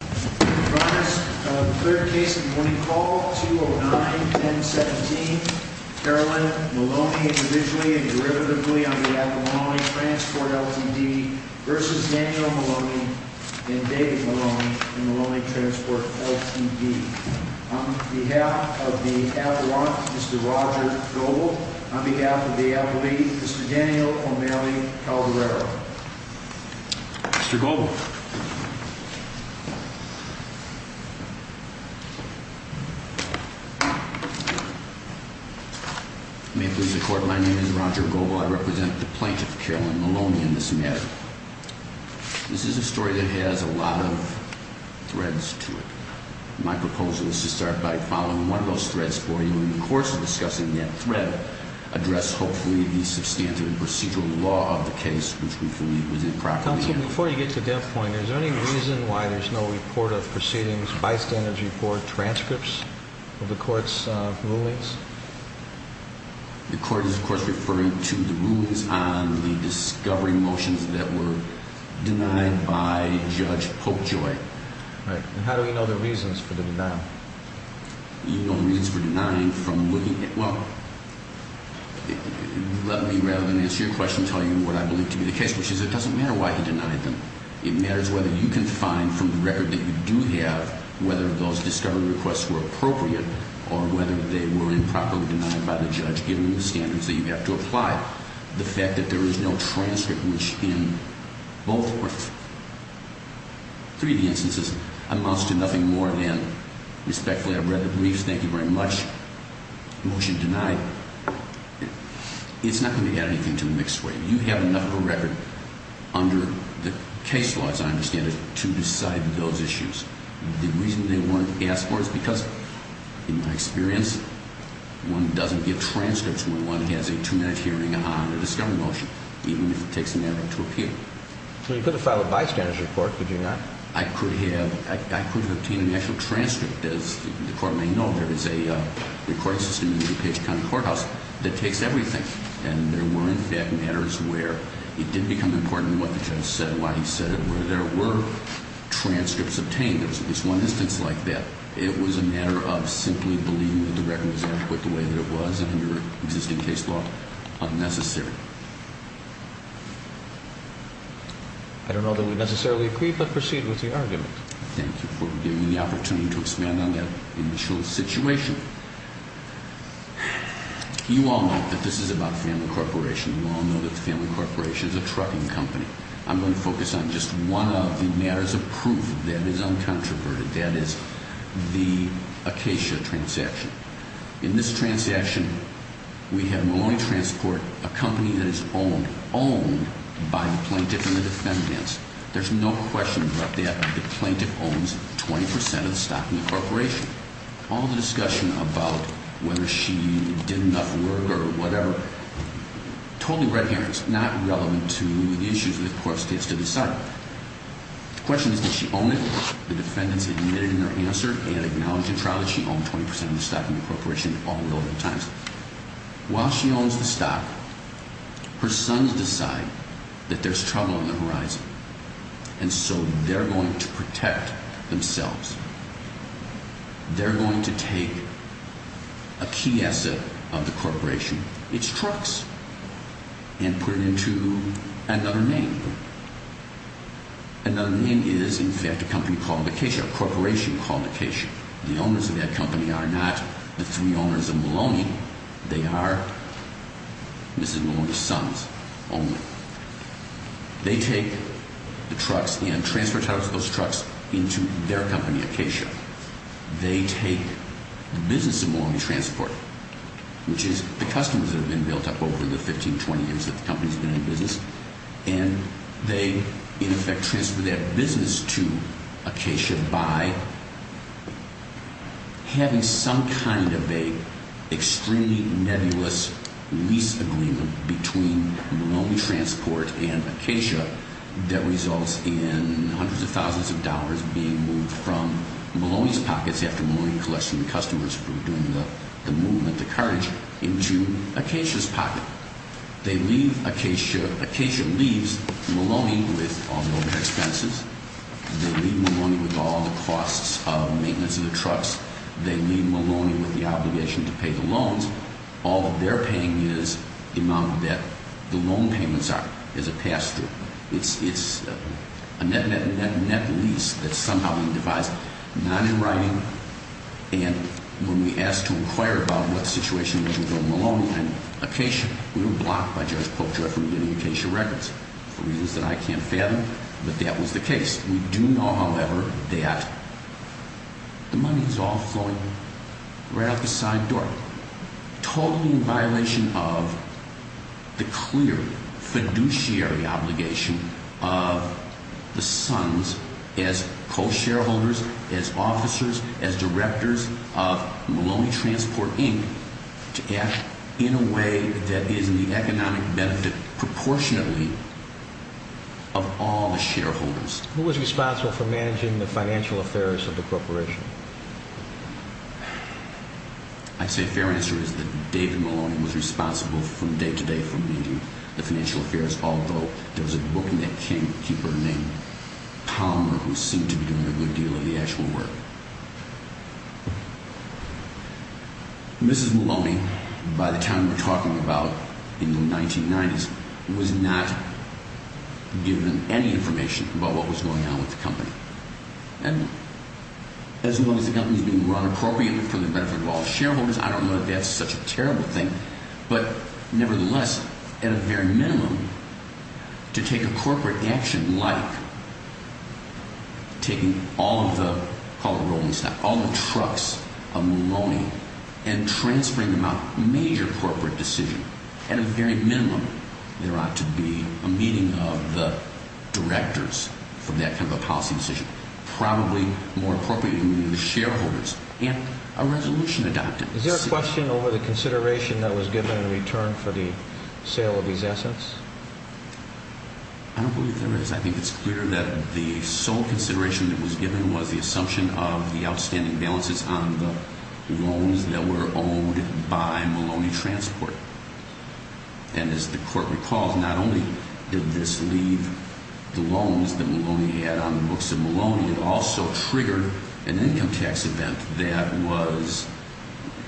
v. Daniel Maloney and David Maloney in Maloney Transport Ltd. On behalf of the Avalon, Mr. Roger Goble. On behalf of the Avali, Mr. Daniel O'Malley Calderaro. Mr. Goble. May it please the Court, my name is Roger Goble. I represent the plaintiff, Carolyn Maloney, in this matter. This is a story that has a lot of threads to it. My proposal is to start by following one of those threads for you. In the course of discussing that thread, address hopefully the substantive procedural law of the case, which we believe was improperly handled. Before you get to that point, is there any reason why there's no report of proceedings, bystanders report, transcripts of the Court's rulings? The Court is, of course, referring to the rulings on the discovery motions that were denied by Judge Popejoy. Right. And how do we know the reasons for the denial? You know the reasons for denying from looking at – well, let me, rather than answer your question, tell you what I believe to be the case, which is it doesn't matter why he denied them. It matters whether you can find from the record that you do have whether those discovery requests were appropriate or whether they were improperly denied by the judge given the standards that you have to apply. The fact that there is no transcript, which in both or three of the instances amounts to nothing more than respectfully I've read the briefs, thank you very much, motion denied, it's not going to add anything to the mixed weight. You have enough of a record under the case law, as I understand it, to decide those issues. The reason they weren't asked for is because, in my experience, one doesn't get transcripts when one has a two-minute hearing on a discovery motion, even if it takes an hour to appeal. Well, you could have filed a bystanders report, could you not? I could have obtained an actual transcript. As the Court may know, there is a recording system in the DuPage County Courthouse that takes everything. And there were, in fact, matters where it did become important what the judge said, why he said it, where there were transcripts obtained. It was one instance like that. It was a matter of simply believing that the record was adequate the way that it was and under existing case law unnecessary. I don't know that we necessarily agree, but proceed with the argument. Thank you for giving me the opportunity to expand on that initial situation. You all know that this is about Family Corporation. You all know that Family Corporation is a trucking company. I'm going to focus on just one of the matters of proof that is uncontroverted. That is the Acacia transaction. In this transaction, we have Maloney Transport, a company that is owned, owned by the plaintiff and the defendants. There's no question about that. The plaintiff owns 20 percent of the stock in the corporation. All the discussion about whether she did enough work or whatever, totally red herring. It's not relevant to the issues that the court gets to decide. The question is, does she own it? The defendants admitted in their answer and acknowledged in trial that she owned 20 percent of the stock in the corporation all the relevant times. While she owns the stock, her sons decide that there's trouble on the horizon, and so they're going to protect themselves. They're going to take a key asset of the corporation, its trucks, and put it into another name. Another name is, in fact, a company called Acacia, a corporation called Acacia. The owners of that company are not the three owners of Maloney. They are Mrs. Maloney's sons only. They take the trucks and transfer those trucks into their company, Acacia. They take the business of Maloney Transport, which is the customers that have been built up over the 15, 20 years that the company's been in business, and they, in effect, transfer that business to Acacia by having some kind of an extremely nebulous lease agreement between Maloney Transport and Acacia that results in hundreds of thousands of dollars being moved from Maloney's pockets, after Maloney collects from the customers for doing the movement, the cartage, into Acacia's pocket. Now, Acacia leaves Maloney with all the expenses. They leave Maloney with all the costs of maintenance of the trucks. They leave Maloney with the obligation to pay the loans. All that they're paying is the amount that the loan payments are as a pass-through. It's a net lease that's somehow being devised, not in writing, and when we asked to inquire about what situation was with Maloney and Acacia, we were blocked by Judge Pope Joy from getting Acacia records for reasons that I can't fathom, but that was the case. We do know, however, that the money is all flowing right out the side door, totally in violation of the clear fiduciary obligation of the Sons as co-shareholders, as officers, as directors of Maloney Transport, Inc., to act in a way that is in the economic benefit, proportionately, of all the shareholders. Who was responsible for managing the financial affairs of the corporation? I'd say a fair answer is that David Maloney was responsible from day to day for managing the financial affairs, although there was a bookkeeper named Palmer who seemed to be doing a good deal of the actual work. Mrs. Maloney, by the time we're talking about in the 1990s, was not given any information about what was going on with the company. And as long as the company is being run appropriately for the benefit of all the shareholders, I don't know that that's such a terrible thing, but nevertheless, at a very minimum, to take a corporate action like taking all of the, call it rolling stock, all the trucks of Maloney and transferring them out, a major corporate decision, at a very minimum, there ought to be a meeting of the directors for that kind of a policy decision. Probably, more appropriately, the shareholders and a resolution adopted. Is there a question over the consideration that was given in return for the sale of these assets? I don't believe there is. I think it's clear that the sole consideration that was given was the assumption of the outstanding balances on the loans that were owned by Maloney Transport. And as the Court recalls, not only did this leave the loans that Maloney had on the books of Maloney, it also triggered an income tax event that was,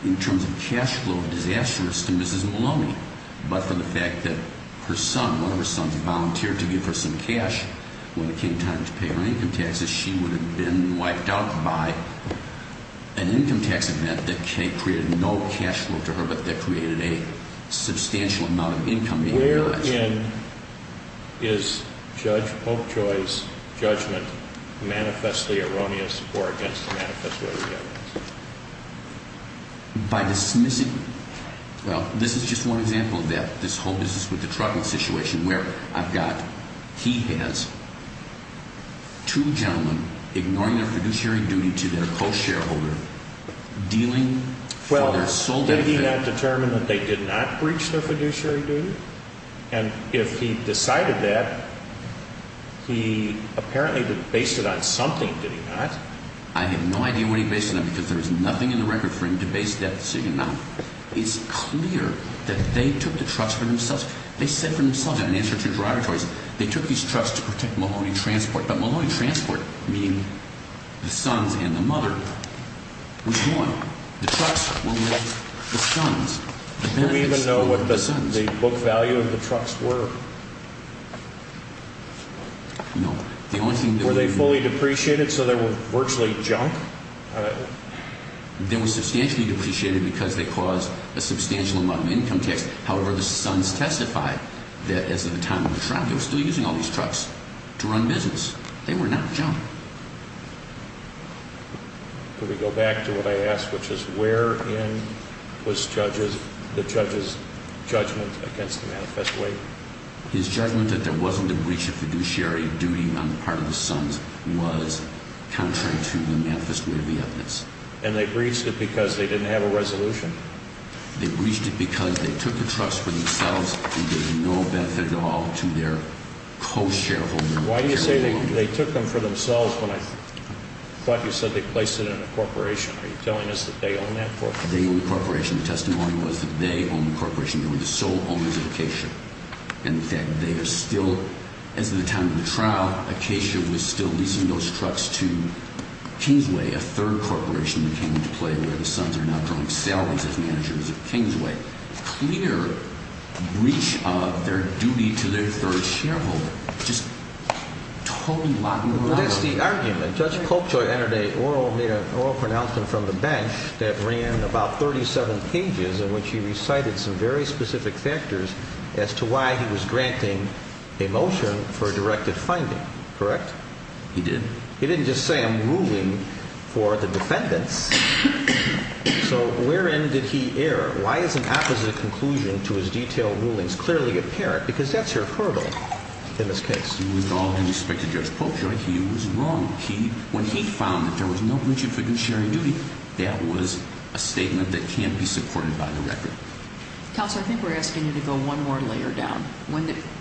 in terms of cash flow, disastrous to Mrs. Maloney. But for the fact that her son, one of her sons volunteered to give her some cash, when it came time to pay her income taxes, she would have been wiped out by an income tax event that created no cash flow to her, but that created a substantial amount of income. Wherein is Judge Popejoy's judgment manifestly erroneous or against the manifest way of the evidence? By dismissing, well, this is just one example of that. This whole business with the trucking situation, where I've got, he has two gentlemen ignoring their fiduciary duty to their co-shareholder, dealing for their sole benefit. Well, did he not determine that they did not breach their fiduciary duty? And if he decided that, he apparently based it on something, did he not? I have no idea what he based it on, because there is nothing in the record for him to base that decision on. It's clear that they took the trucks for themselves. They said for themselves in an answer to the derogatories, they took these trucks to protect Maloney Transport, but Maloney Transport, meaning the sons and the mother, was gone. The trucks were with the sons. Do we even know what the book value of the trucks were? No. Were they fully depreciated so they were virtually junk? They were substantially depreciated because they caused a substantial amount of income tax. However, the sons testified that as of the time of the trial, they were still using all these trucks to run business. They were not junk. Could we go back to what I asked, which is wherein was the judge's judgment against the manifesto aid? His judgment that there wasn't a breach of fiduciary duty on the part of the sons was contrary to the manifest way of the evidence. And they breached it because they didn't have a resolution? They breached it because they took the trucks for themselves and gave no benefit at all to their co-shareholders. Why do you say they took them for themselves when I thought you said they placed it in a corporation? Are you telling us that they owned that corporation? They owned the corporation. The testimony was that they owned the corporation. They were the sole owners of Acacia. And, in fact, they are still, as of the time of the trial, Acacia was still leasing those trucks to Kingsway, a third corporation that came into play where the sons are now drawing salaries as managers of Kingsway. Clear breach of their duty to their third shareholder. Just totally lacking reliability. Well, that's the argument. Judge Polkjoy made an oral pronouncement from the bench that ran about 37 pages in which he recited some very specific factors as to why he was granting a motion for a directed finding. Correct? He did. He didn't just say I'm ruling for the defendants. So wherein did he err? Why is an opposite conclusion to his detailed rulings clearly apparent? Because that's your hurdle in this case. With all due respect to Judge Polkjoy, he was wrong. When he found that there was no breach of fiduciary duty, that was a statement that can't be supported by the record. Counselor, I think we're asking you to go one more layer down.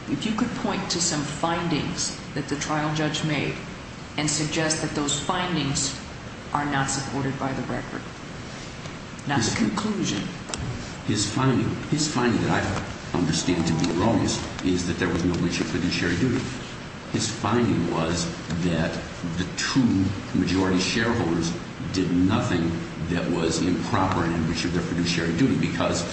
If you could point to some findings that the trial judge made and suggest that those findings are not supported by the record, not the conclusion. His finding that I understand to be wrong is that there was no breach of fiduciary duty. His finding was that the two majority shareholders did nothing that was improper in the breach of their fiduciary duty because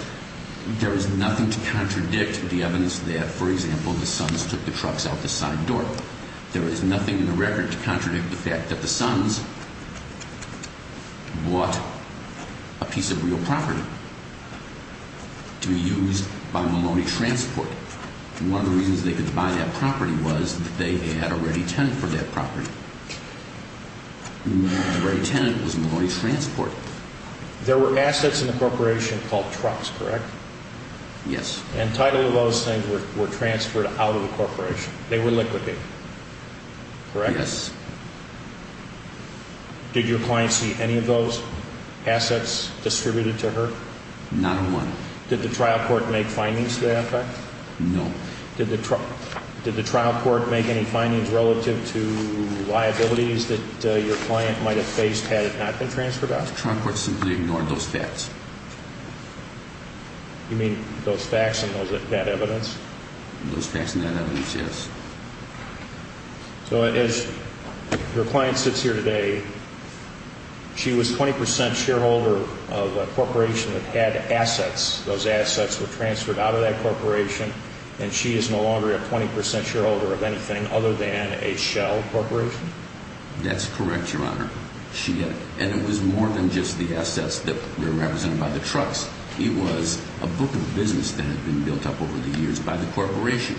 there was nothing to contradict the evidence that, for example, the Sons took the trucks out the side door. There is nothing in the record to contradict the fact that the Sons bought a piece of real property to be used by Maloney Transport. One of the reasons they could buy that property was that they had a ready tenant for that property. The ready tenant was Maloney Transport. There were assets in the corporation called trucks, correct? Yes. And title of those things were transferred out of the corporation. They were liquidated, correct? Yes. Did your client see any of those assets distributed to her? Not one. Did the trial court make findings to that effect? No. Did the trial court make any findings relative to liabilities that your client might have faced had it not been transferred out? The trial court simply ignored those facts. You mean those facts and that evidence? Those facts and that evidence, yes. So as your client sits here today, she was 20% shareholder of a corporation that had assets. Those assets were transferred out of that corporation, and she is no longer a 20% shareholder of anything other than a Shell Corporation? That's correct, Your Honor. And it was more than just the assets that were represented by the trucks. It was a book of business that had been built up over the years by the corporation.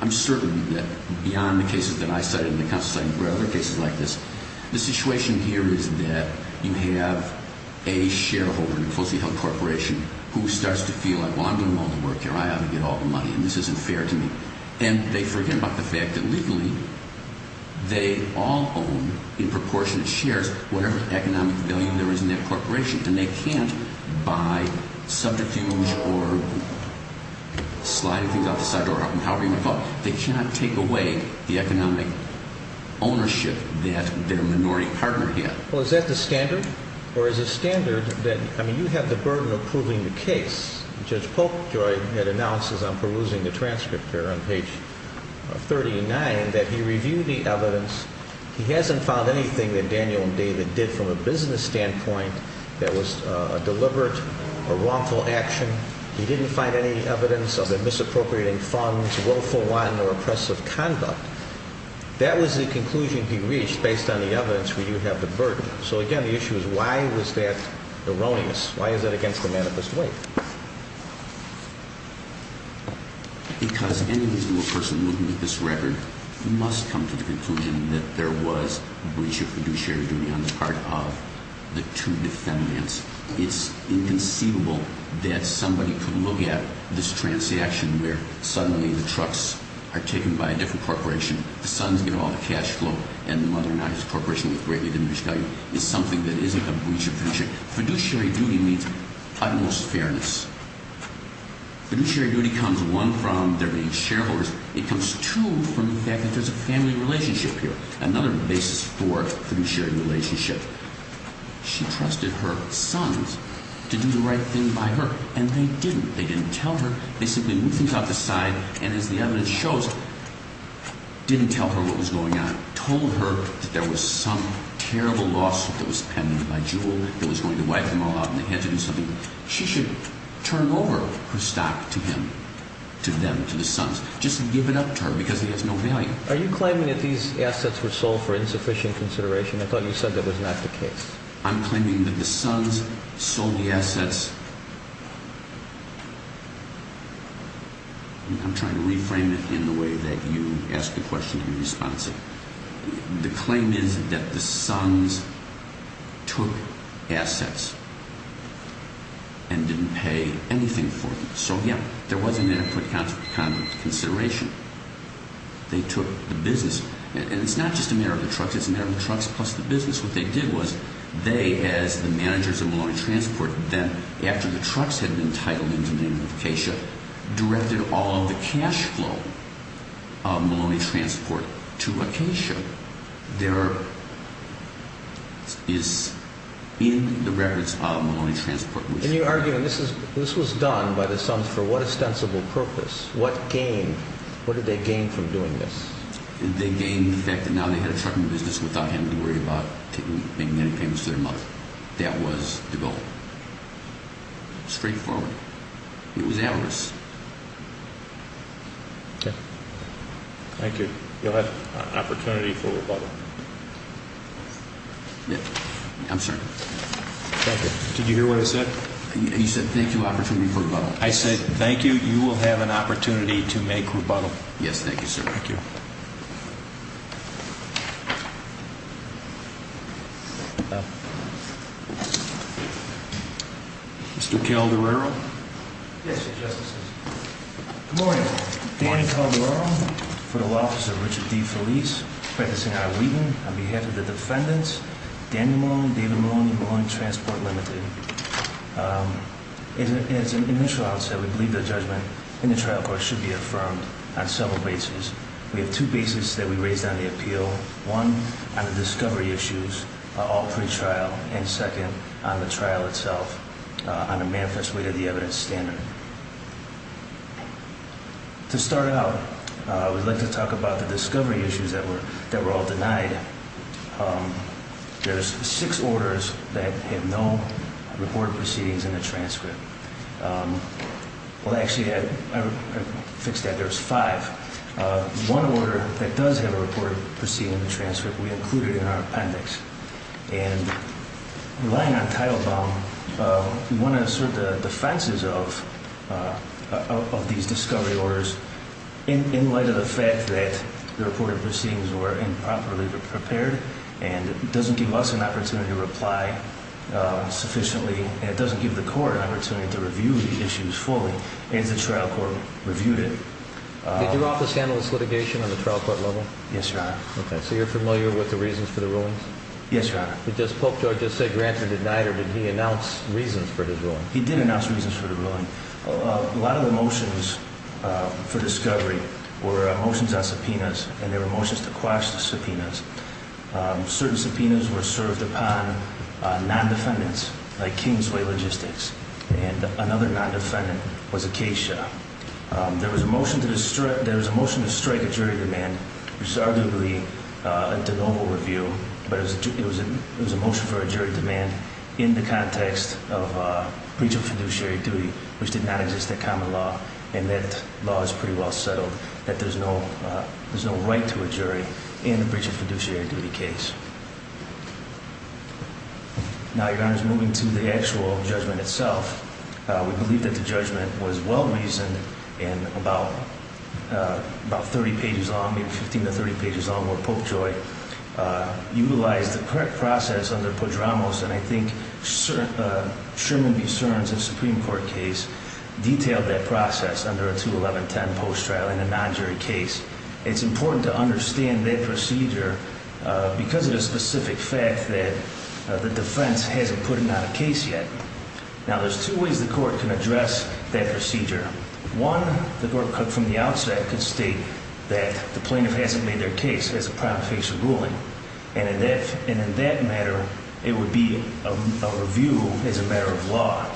I'm certain that beyond the cases that I cited and the counsel cited, there were other cases like this. The situation here is that you have a shareholder in a closely held corporation who starts to feel like, well, I'm doing all the work here. I ought to get all the money, and this isn't fair to me. And they forget about the fact that legally they all own in proportionate shares whatever economic value there is in that corporation, and they can't, by subterfuge or sliding things out the side door, however you want to call it, they cannot take away the economic ownership that their minority partner had. Well, is that the standard? Or is it standard that, I mean, you have the burden of proving the case. Judge Polkjoy had announced as I'm perusing the transcript here on page 39 that he reviewed the evidence. He hasn't found anything that Daniel and David did from a business standpoint that was a deliberate or wrongful action. He didn't find any evidence of them misappropriating funds, willful one, or oppressive conduct. That was the conclusion he reached based on the evidence where you have the burden. So, again, the issue is why was that erroneous? Why is that against the manifest way? Because any reasonable person looking at this record must come to the conclusion that there was breach of fiduciary duty on the part of the two defendants. It's inconceivable that somebody could look at this transaction where suddenly the trucks are taken by a different corporation, the sons get all the cash flow, and the mother and I as a corporation with greatly diminished value is something that isn't a breach of fiduciary duty. Fiduciary duty means utmost fairness. Fiduciary duty comes, one, from their being shareholders. It comes, two, from the fact that there's a family relationship here, another basis for fiduciary relationship. She trusted her sons to do the right thing by her, and they didn't. They didn't tell her. They simply moved things out the side, and as the evidence shows, didn't tell her what was going on. They told her that there was some terrible lawsuit that was pending by Juul that was going to wipe them all out and they had to do something. She should turn over her stock to him, to them, to the sons, just give it up to her because he has no value. Are you claiming that these assets were sold for insufficient consideration? I thought you said that was not the case. I'm trying to reframe it in the way that you asked the question in response. The claim is that the sons took assets and didn't pay anything for them. So, yeah, there was an inadequate kind of consideration. They took the business, and it's not just a matter of the trucks. It's a matter of the trucks plus the business. What they did was they, as the managers of Maloney Transport, then after the trucks had been titled into the name of Acacia, directed all of the cash flow of Maloney Transport to Acacia. There is in the records of Maloney Transport. And you're arguing this was done by the sons for what ostensible purpose? What gain? What did they gain from doing this? They gained the fact that now they had a trucking business without having to worry about making any payments to their mother. That was the goal. Straightforward. It was avarice. Okay. Thank you. You'll have an opportunity for rebuttal. I'm sorry. Thank you. Did you hear what I said? You said thank you, opportunity for rebuttal. I said thank you. You will have an opportunity to make rebuttal. Yes, thank you, sir. Thank you. Mr. Calderaro? Yes, Your Justices. Good morning. Danny Calderaro, Federal Officer Richard D. Felice, practicing out of Wheaton. On behalf of the defendants, Danny Maloney, David Maloney, Maloney Transport, Ltd. As an initial outset, we believe the judgment in the trial court should be affirmed on several bases. We have two bases that we raised on the appeal. One, on the discovery issues, all pre-trial. And second, on the trial itself, on a manifest way to the evidence standard. To start out, I would like to talk about the discovery issues that were all denied. There's six orders that have no reported proceedings in the transcript. Well, actually, I fixed that. There's five. One order that does have a reported proceeding in the transcript we included in our appendix. And relying on title bound, we want to assert the defenses of these discovery orders in light of the fact that the reported proceedings were improperly prepared, and it doesn't give us an opportunity to reply sufficiently, and it doesn't give the court an opportunity to review the issues fully, as the trial court reviewed it. Did your office handle this litigation on the trial court level? Yes, Your Honor. Okay, so you're familiar with the reasons for the rulings? Yes, Your Honor. Did this Pope George just say granted, denied, or did he announce reasons for his ruling? He did announce reasons for the ruling. A lot of the motions for discovery were motions on subpoenas, and they were motions to quash the subpoenas. Certain subpoenas were served upon non-defendants, like Kingsway Logistics, and another non-defendant was Acacia. There was a motion to strike a jury demand, which is arguably a de novo review, but it was a motion for a jury demand in the context of breach of fiduciary duty, which did not exist at common law, and that law is pretty well settled, that there's no right to a jury in a breach of fiduciary duty case. Now, Your Honor, moving to the actual judgment itself, we believe that the judgment was well reasoned, and about 30 pages long, maybe 15 to 30 pages long, where Pope Joy utilized the correct process under Podramos, and I think Sherman v. Searns in the Supreme Court case detailed that process under a 21110 post trial in a non-jury case. It's important to understand that procedure because of the specific fact that the defense hasn't put it on a case yet. Now, there's two ways the court can address that procedure. One, the court could, from the outset, could state that the plaintiff hasn't made their case as a prompt facial ruling, and in that matter, it would be a review as a matter of law,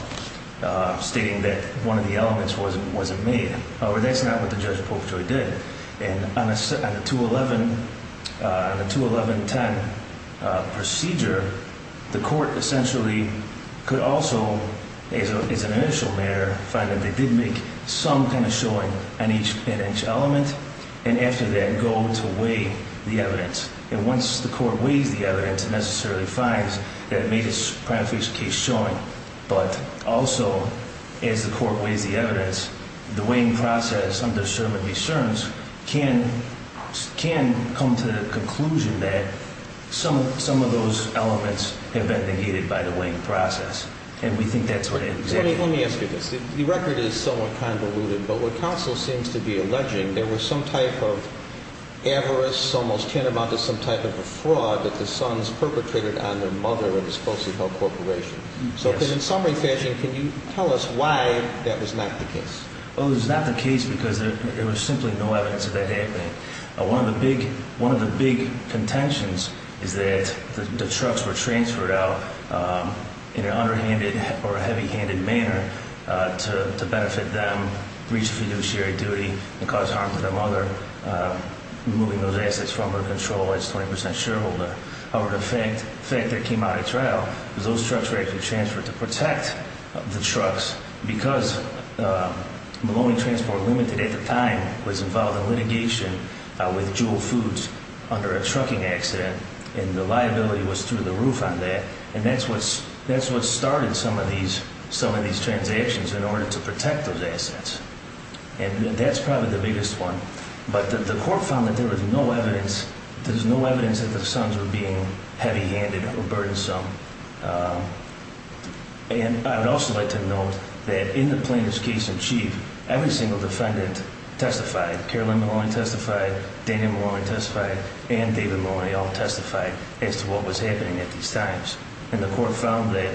stating that one of the elements wasn't made. However, that's not what the judge, Pope Joy, did. And on a 21110 procedure, the court essentially could also, as an initial matter, find that they did make some kind of showing on each element, and after that, go to weigh the evidence. And once the court weighs the evidence, it necessarily finds that it made its prompt facial case showing. But also, as the court weighs the evidence, the weighing process under Sherman v. Searns can come to the conclusion that some of those elements have been negated by the weighing process, and we think that's what it exactly is. Let me ask you this. The record is somewhat convoluted, but what counsel seems to be alleging, there was some type of avarice, almost tantamount to some type of a fraud, that the sons perpetrated on their mother in a supposedly held corporation. So in summary fashion, can you tell us why that was not the case? Well, it was not the case because there was simply no evidence of that happening. One of the big contentions is that the trucks were transferred out in an underhanded or heavy-handed manner to benefit them, reach fiduciary duty, and cause harm to their mother, removing those assets from her control as 20 percent shareholder. However, the fact that it came out at trial was those trucks were actually transferred to protect the trucks because Maloney Transport Limited at the time was involved in litigation with Jewel Foods under a trucking accident, and the liability was through the roof on that, and that's what started some of these transactions in order to protect those assets. And that's probably the biggest one. But the court found that there was no evidence, there's no evidence that the sons were being heavy-handed or burdensome. And I would also like to note that in the plaintiff's case in chief, every single defendant testified. Carolyn Maloney testified, Daniel Maloney testified, and David Maloney all testified as to what was happening at these times. And the court found that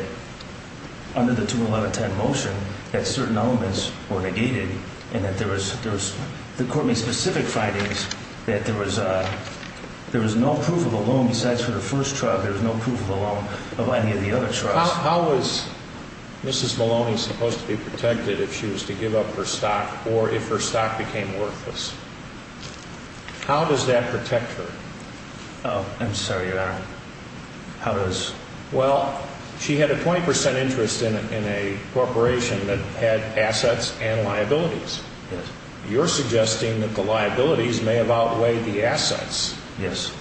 under the 21110 motion that certain elements were negated, and that the court made specific findings that there was no proof of the loan. Besides for the first trial, there was no proof of the loan of any of the other trials. How was Mrs. Maloney supposed to be protected if she was to give up her stock or if her stock became worthless? How does that protect her? I'm sorry, Your Honor. How does? Well, she had a 20% interest in a corporation that had assets and liabilities. Yes. You're suggesting that the liabilities may have outweighed the assets. Yes.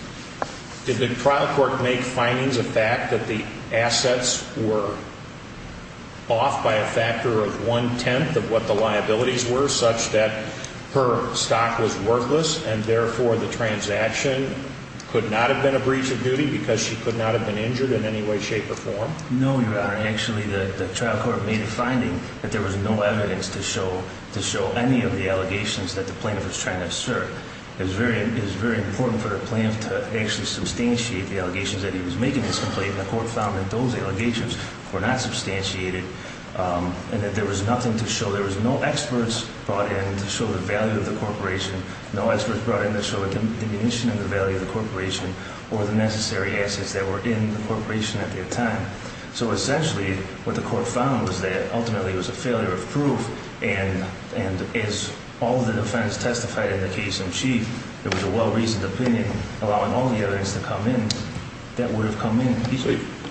Did the trial court make findings of fact that the assets were off by a factor of one-tenth of what the liabilities were, such that her stock was worthless, and therefore the transaction could not have been a breach of duty because she could not have been injured in any way, shape, or form? No, Your Honor. Actually, the trial court made a finding that there was no evidence to show any of the allegations that the plaintiff was trying to assert. It was very important for the plaintiff to actually substantiate the allegations that he was making in his complaint. And the court found that those allegations were not substantiated and that there was nothing to show. There was no experts brought in to show the value of the corporation, no experts brought in to show a diminution of the value of the corporation or the necessary assets that were in the corporation at the time. So essentially what the court found was that ultimately it was a failure of proof, and as all of the defendants testified in the case in chief, there was a well-reasoned opinion, allowing all the others to come in, that would have come in.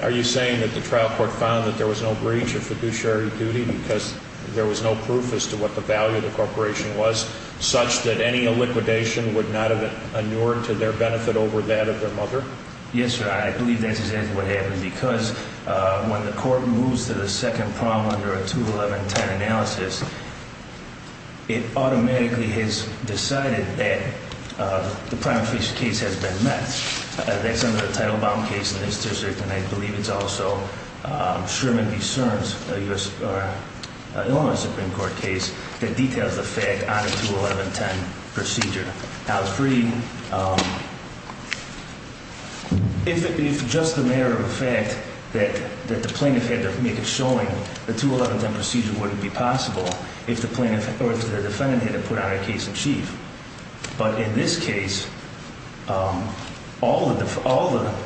Are you saying that the trial court found that there was no breach of fiduciary duty because there was no proof as to what the value of the corporation was, such that any illiquidation would not have inured to their benefit over that of their mother? Yes, Your Honor, I believe that's exactly what happened, because when the court moves to the second problem under a 21110 analysis, it automatically has decided that the prima facie case has been met. That's under the Title Bomb case in this district, and I believe it's also Sherman v. Searns, an Illinois Supreme Court case, that details the fact on a 21110 procedure. I believe that's also Sherman v. Searns, and I believe that's also Sherman v. Searns, and I believe that's also Sherman v. Searns, that the plaintiff had to make it showing the 21110 procedure wouldn't be possible if the defendant had to put out a case in chief. But in this case, all the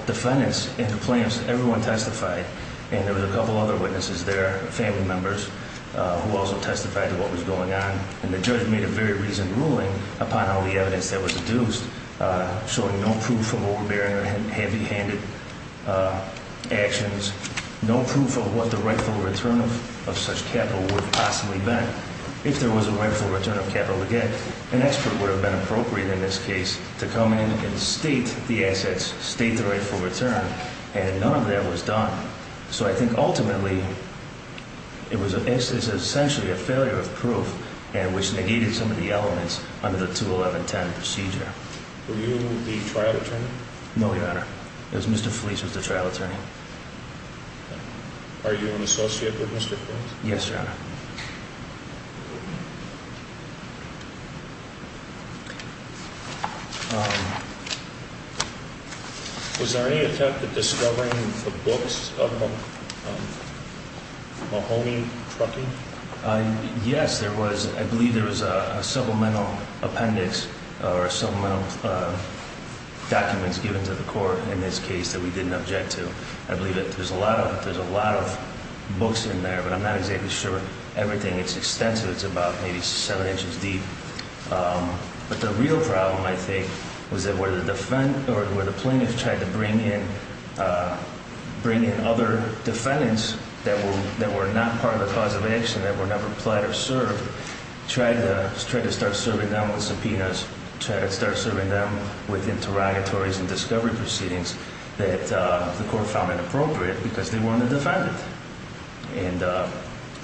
defendants and the plaintiffs, everyone testified, and there were a couple other witnesses there, family members, who also testified to what was going on, and the judge made a very reasoned ruling upon all the evidence that was deduced, showing no proof of overbearing or heavy-handed actions, no proof of what the rightful return of such capital would have possibly been. If there was a rightful return of capital to get, an expert would have been appropriate in this case to come in and state the assets, state the rightful return, and none of that was done. So I think ultimately, it was essentially a failure of proof in which they needed some of the elements under the 21110 procedure. Were you the trial attorney? No, Your Honor. It was Mr. Fleece who was the trial attorney. Are you an associate with Mr. Fleece? Yes, Your Honor. Was there any attempt at discovering the books of Mahoney Trucking? Yes, there was. I believe there was a supplemental appendix or supplemental documents given to the court in this case that we didn't object to. I believe that there's a lot of books in there, but I'm not exactly sure everything. It's extensive. It's about maybe seven inches deep. But the real problem, I think, was that where the plaintiff tried to bring in other defendants that were not part of the cause of action, that were never applied or served, tried to start serving them with subpoenas, tried to start serving them with interrogatories and discovery proceedings that the court found inappropriate because they weren't a defendant.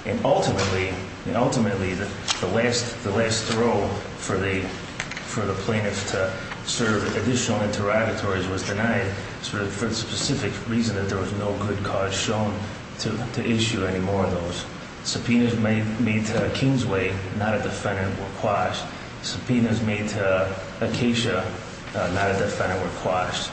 And ultimately, the last row for the plaintiff to serve additional interrogatories was denied for the specific reason that there was no good cause shown to issue any more of those. Subpoenas made to Kingsway, not a defendant, were quashed. Subpoenas made to Acacia, not a defendant, were quashed.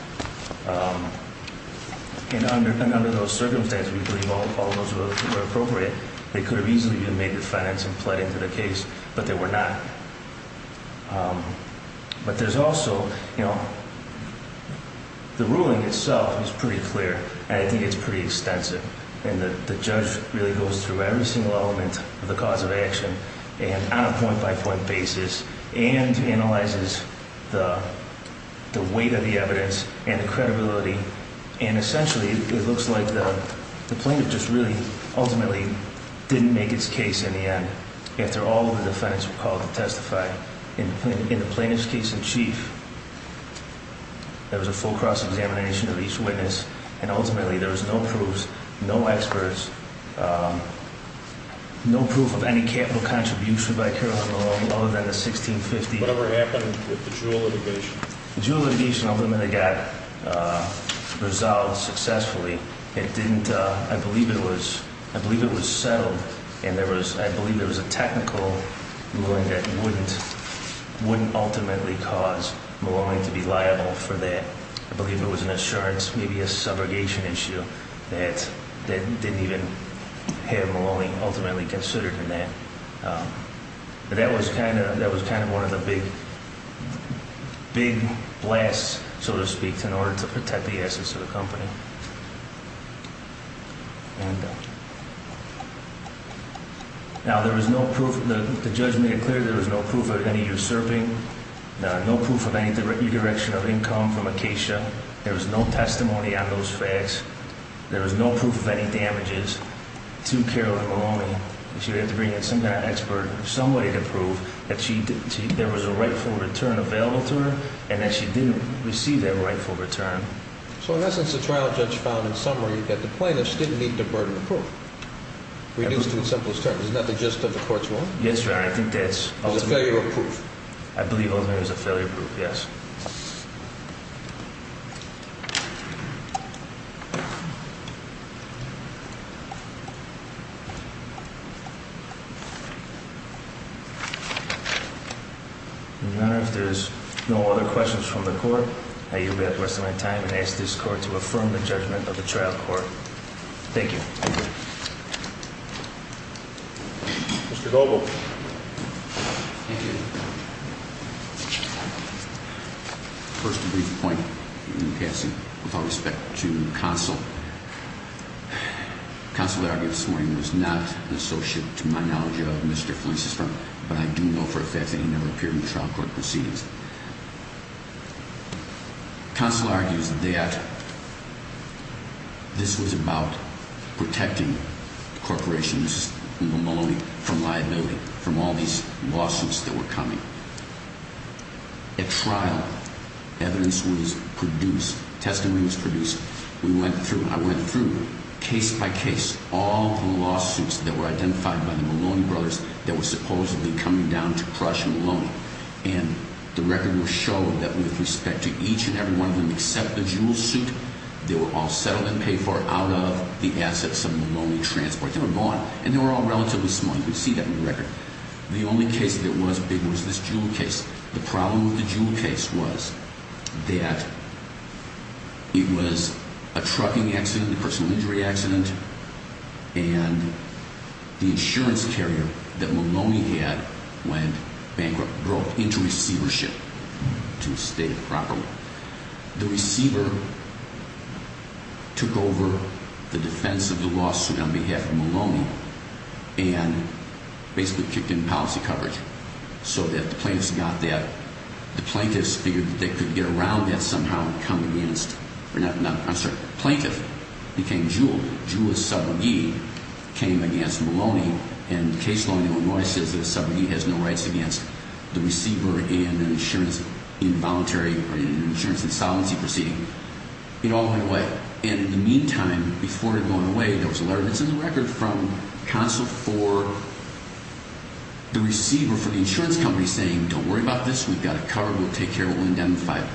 And under those circumstances, we believe all of those were appropriate. They could have easily been made defendants and pled into the case, but they were not. But there's also, you know, the ruling itself is pretty clear, and I think it's pretty extensive. And the judge really goes through every single element of the cause of action on a point-by-point basis and analyzes the weight of the evidence and the credibility. And essentially, it looks like the plaintiff just really ultimately didn't make its case in the end after all of the defendants were called to testify. In the plaintiff's case in chief, there was a full cross-examination of each witness. And ultimately, there was no proofs, no experts, no proof of any capital contribution by Caroline Maloney other than the $1,650. Whatever happened with the juul litigation? The juul litigation ultimately got resolved successfully. I believe it was settled, and I believe there was a technical ruling that wouldn't ultimately cause Maloney to be liable for that. I believe it was an assurance, maybe a subrogation issue that didn't even have Maloney ultimately considered in that. That was kind of one of the big blasts, so to speak, in order to protect the assets of the company. Now, there was no proof. The judge made it clear there was no proof of any usurping, no proof of any redirection of income from Acacia. There was no testimony on those facts. There was no proof of any damages to Caroline Maloney. She would have to bring in some kind of expert, somebody to prove that there was a rightful return available to her and that she did receive that rightful return. So, in essence, the trial judge found, in summary, that the plaintiffs didn't need the burden of proof, reduced to the simplest terms. Isn't that the gist of the court's ruling? Yes, Your Honor, I think that's ultimate. It was a failure of proof. I believe ultimately it was a failure of proof, yes. Thank you. Your Honor, if there's no other questions from the court, I yield back the rest of my time and ask this court to affirm the judgment of the trial court. Thank you. Mr. Gobel. Thank you. First, a brief point in passing with all respect to counsel. Counsel argued this morning was not an associate, to my knowledge, of Mr. Flint's firm, but I do know for a fact that he never appeared in the trial court proceedings. Counsel argues that this was about protecting corporations, Maloney, from liability, from all these lawsuits that were coming. At trial, evidence was produced, testimony was produced. We went through, I went through, case by case, all the lawsuits that were identified by the Maloney brothers that were supposedly coming down to crush Maloney. And the record will show that with respect to each and every one of them except the Jewel suit, they were all settled and paid for out of the assets of Maloney Transport. They were gone. And they were all relatively small. You can see that in the record. The only case that was big was this Jewel case. The problem with the Jewel case was that it was a trucking accident, a personal injury accident, and the insurance carrier that Maloney had went bankrupt, broke into receivership, to state it properly. The receiver took over the defense of the lawsuit on behalf of Maloney and basically kicked in policy coverage so that the plaintiffs got that. The plaintiffs figured that they could get around that somehow and come against, I'm sorry, the plaintiff became Jewel. Jewel's subrogate came against Maloney, and case law in Illinois says that a subrogate has no rights against the receiver and an insurance involuntary or an insurance insolvency proceeding. It all went away. And in the meantime, before it had gone away, there was a letter that's in the record from Consul for the receiver for the insurance company saying, don't worry about this, we've got it covered, we'll take care of it, we'll indemnify it.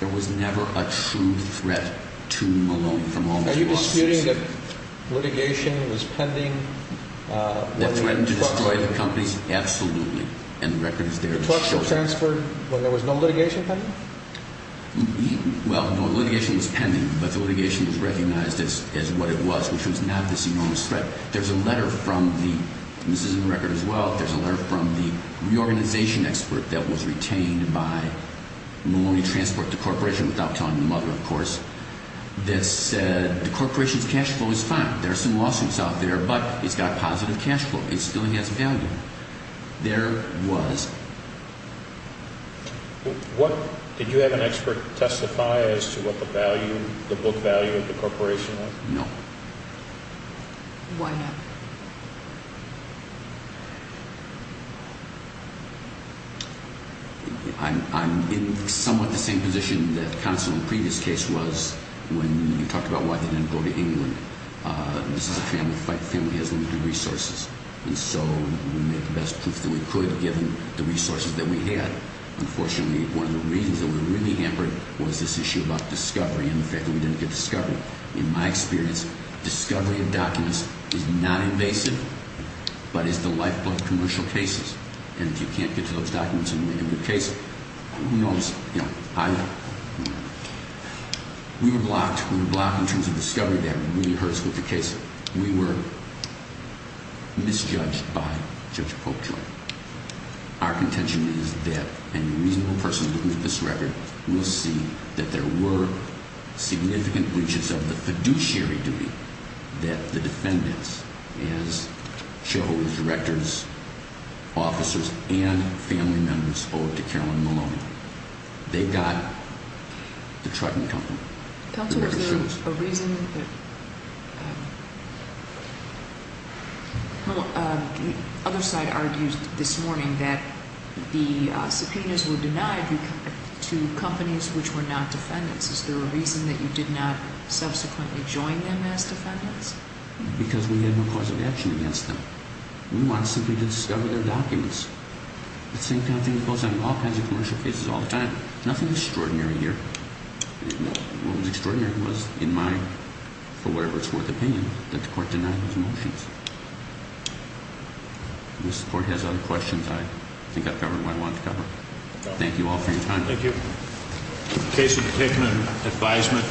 There was never a true threat to Maloney from all these lawsuits. Are you disputing that litigation was pending? The threat to destroy the companies? Absolutely. And the record is there to show that. The trucks were transferred when there was no litigation pending? Well, no, litigation was pending, but the litigation was recognized as what it was, which was not this enormous threat. There's a letter from the – and this is in the record as well – there's a letter from the reorganization expert that was retained by Maloney Transport, the corporation, without telling the mother, of course, that said the corporation's cash flow is fine. There are some lawsuits out there, but it's got positive cash flow. It still has value. There was. Did you have an expert testify as to what the value, the book value of the corporation was? No. Why not? I'm in somewhat the same position that the counsel in the previous case was when you talked about why they didn't go to England. This is a family fight. Family has limited resources. And so we made the best proof that we could, given the resources that we had. Unfortunately, one of the reasons that we were really hampered was this issue about discovery and the fact that we didn't get discovery. In my experience, discovery of documents is not invasive, but it's the lifeblood of commercial cases. And if you can't get to those documents in the case, who knows? You know, I don't know. We were blocked. We were blocked in terms of discovery. That really hurts with the case. We were misjudged by Judge Popejoy. Our contention is that a reasonable person looking at this record will see that there were significant breaches of the fiduciary duty that the defendants, as shareholders, directors, officers and family members owed to Carolyn Maloney. They got the trucking company. Counsel, is there a reason that – well, the other side argued this morning that the subpoenas were denied to companies which were not defendants. Is there a reason that you did not subsequently join them as defendants? Because we had no cause of action against them. We wanted simply to discover their documents. It's the same kind of thing that goes on in all kinds of commercial cases all the time. Nothing extraordinary here. What was extraordinary was, in my – for whatever it's worth – opinion, that the court denied those motions. If the court has other questions, I think I've covered what I wanted to cover. Thank you all for your time. Thank you. Case of the Pickman, advisement.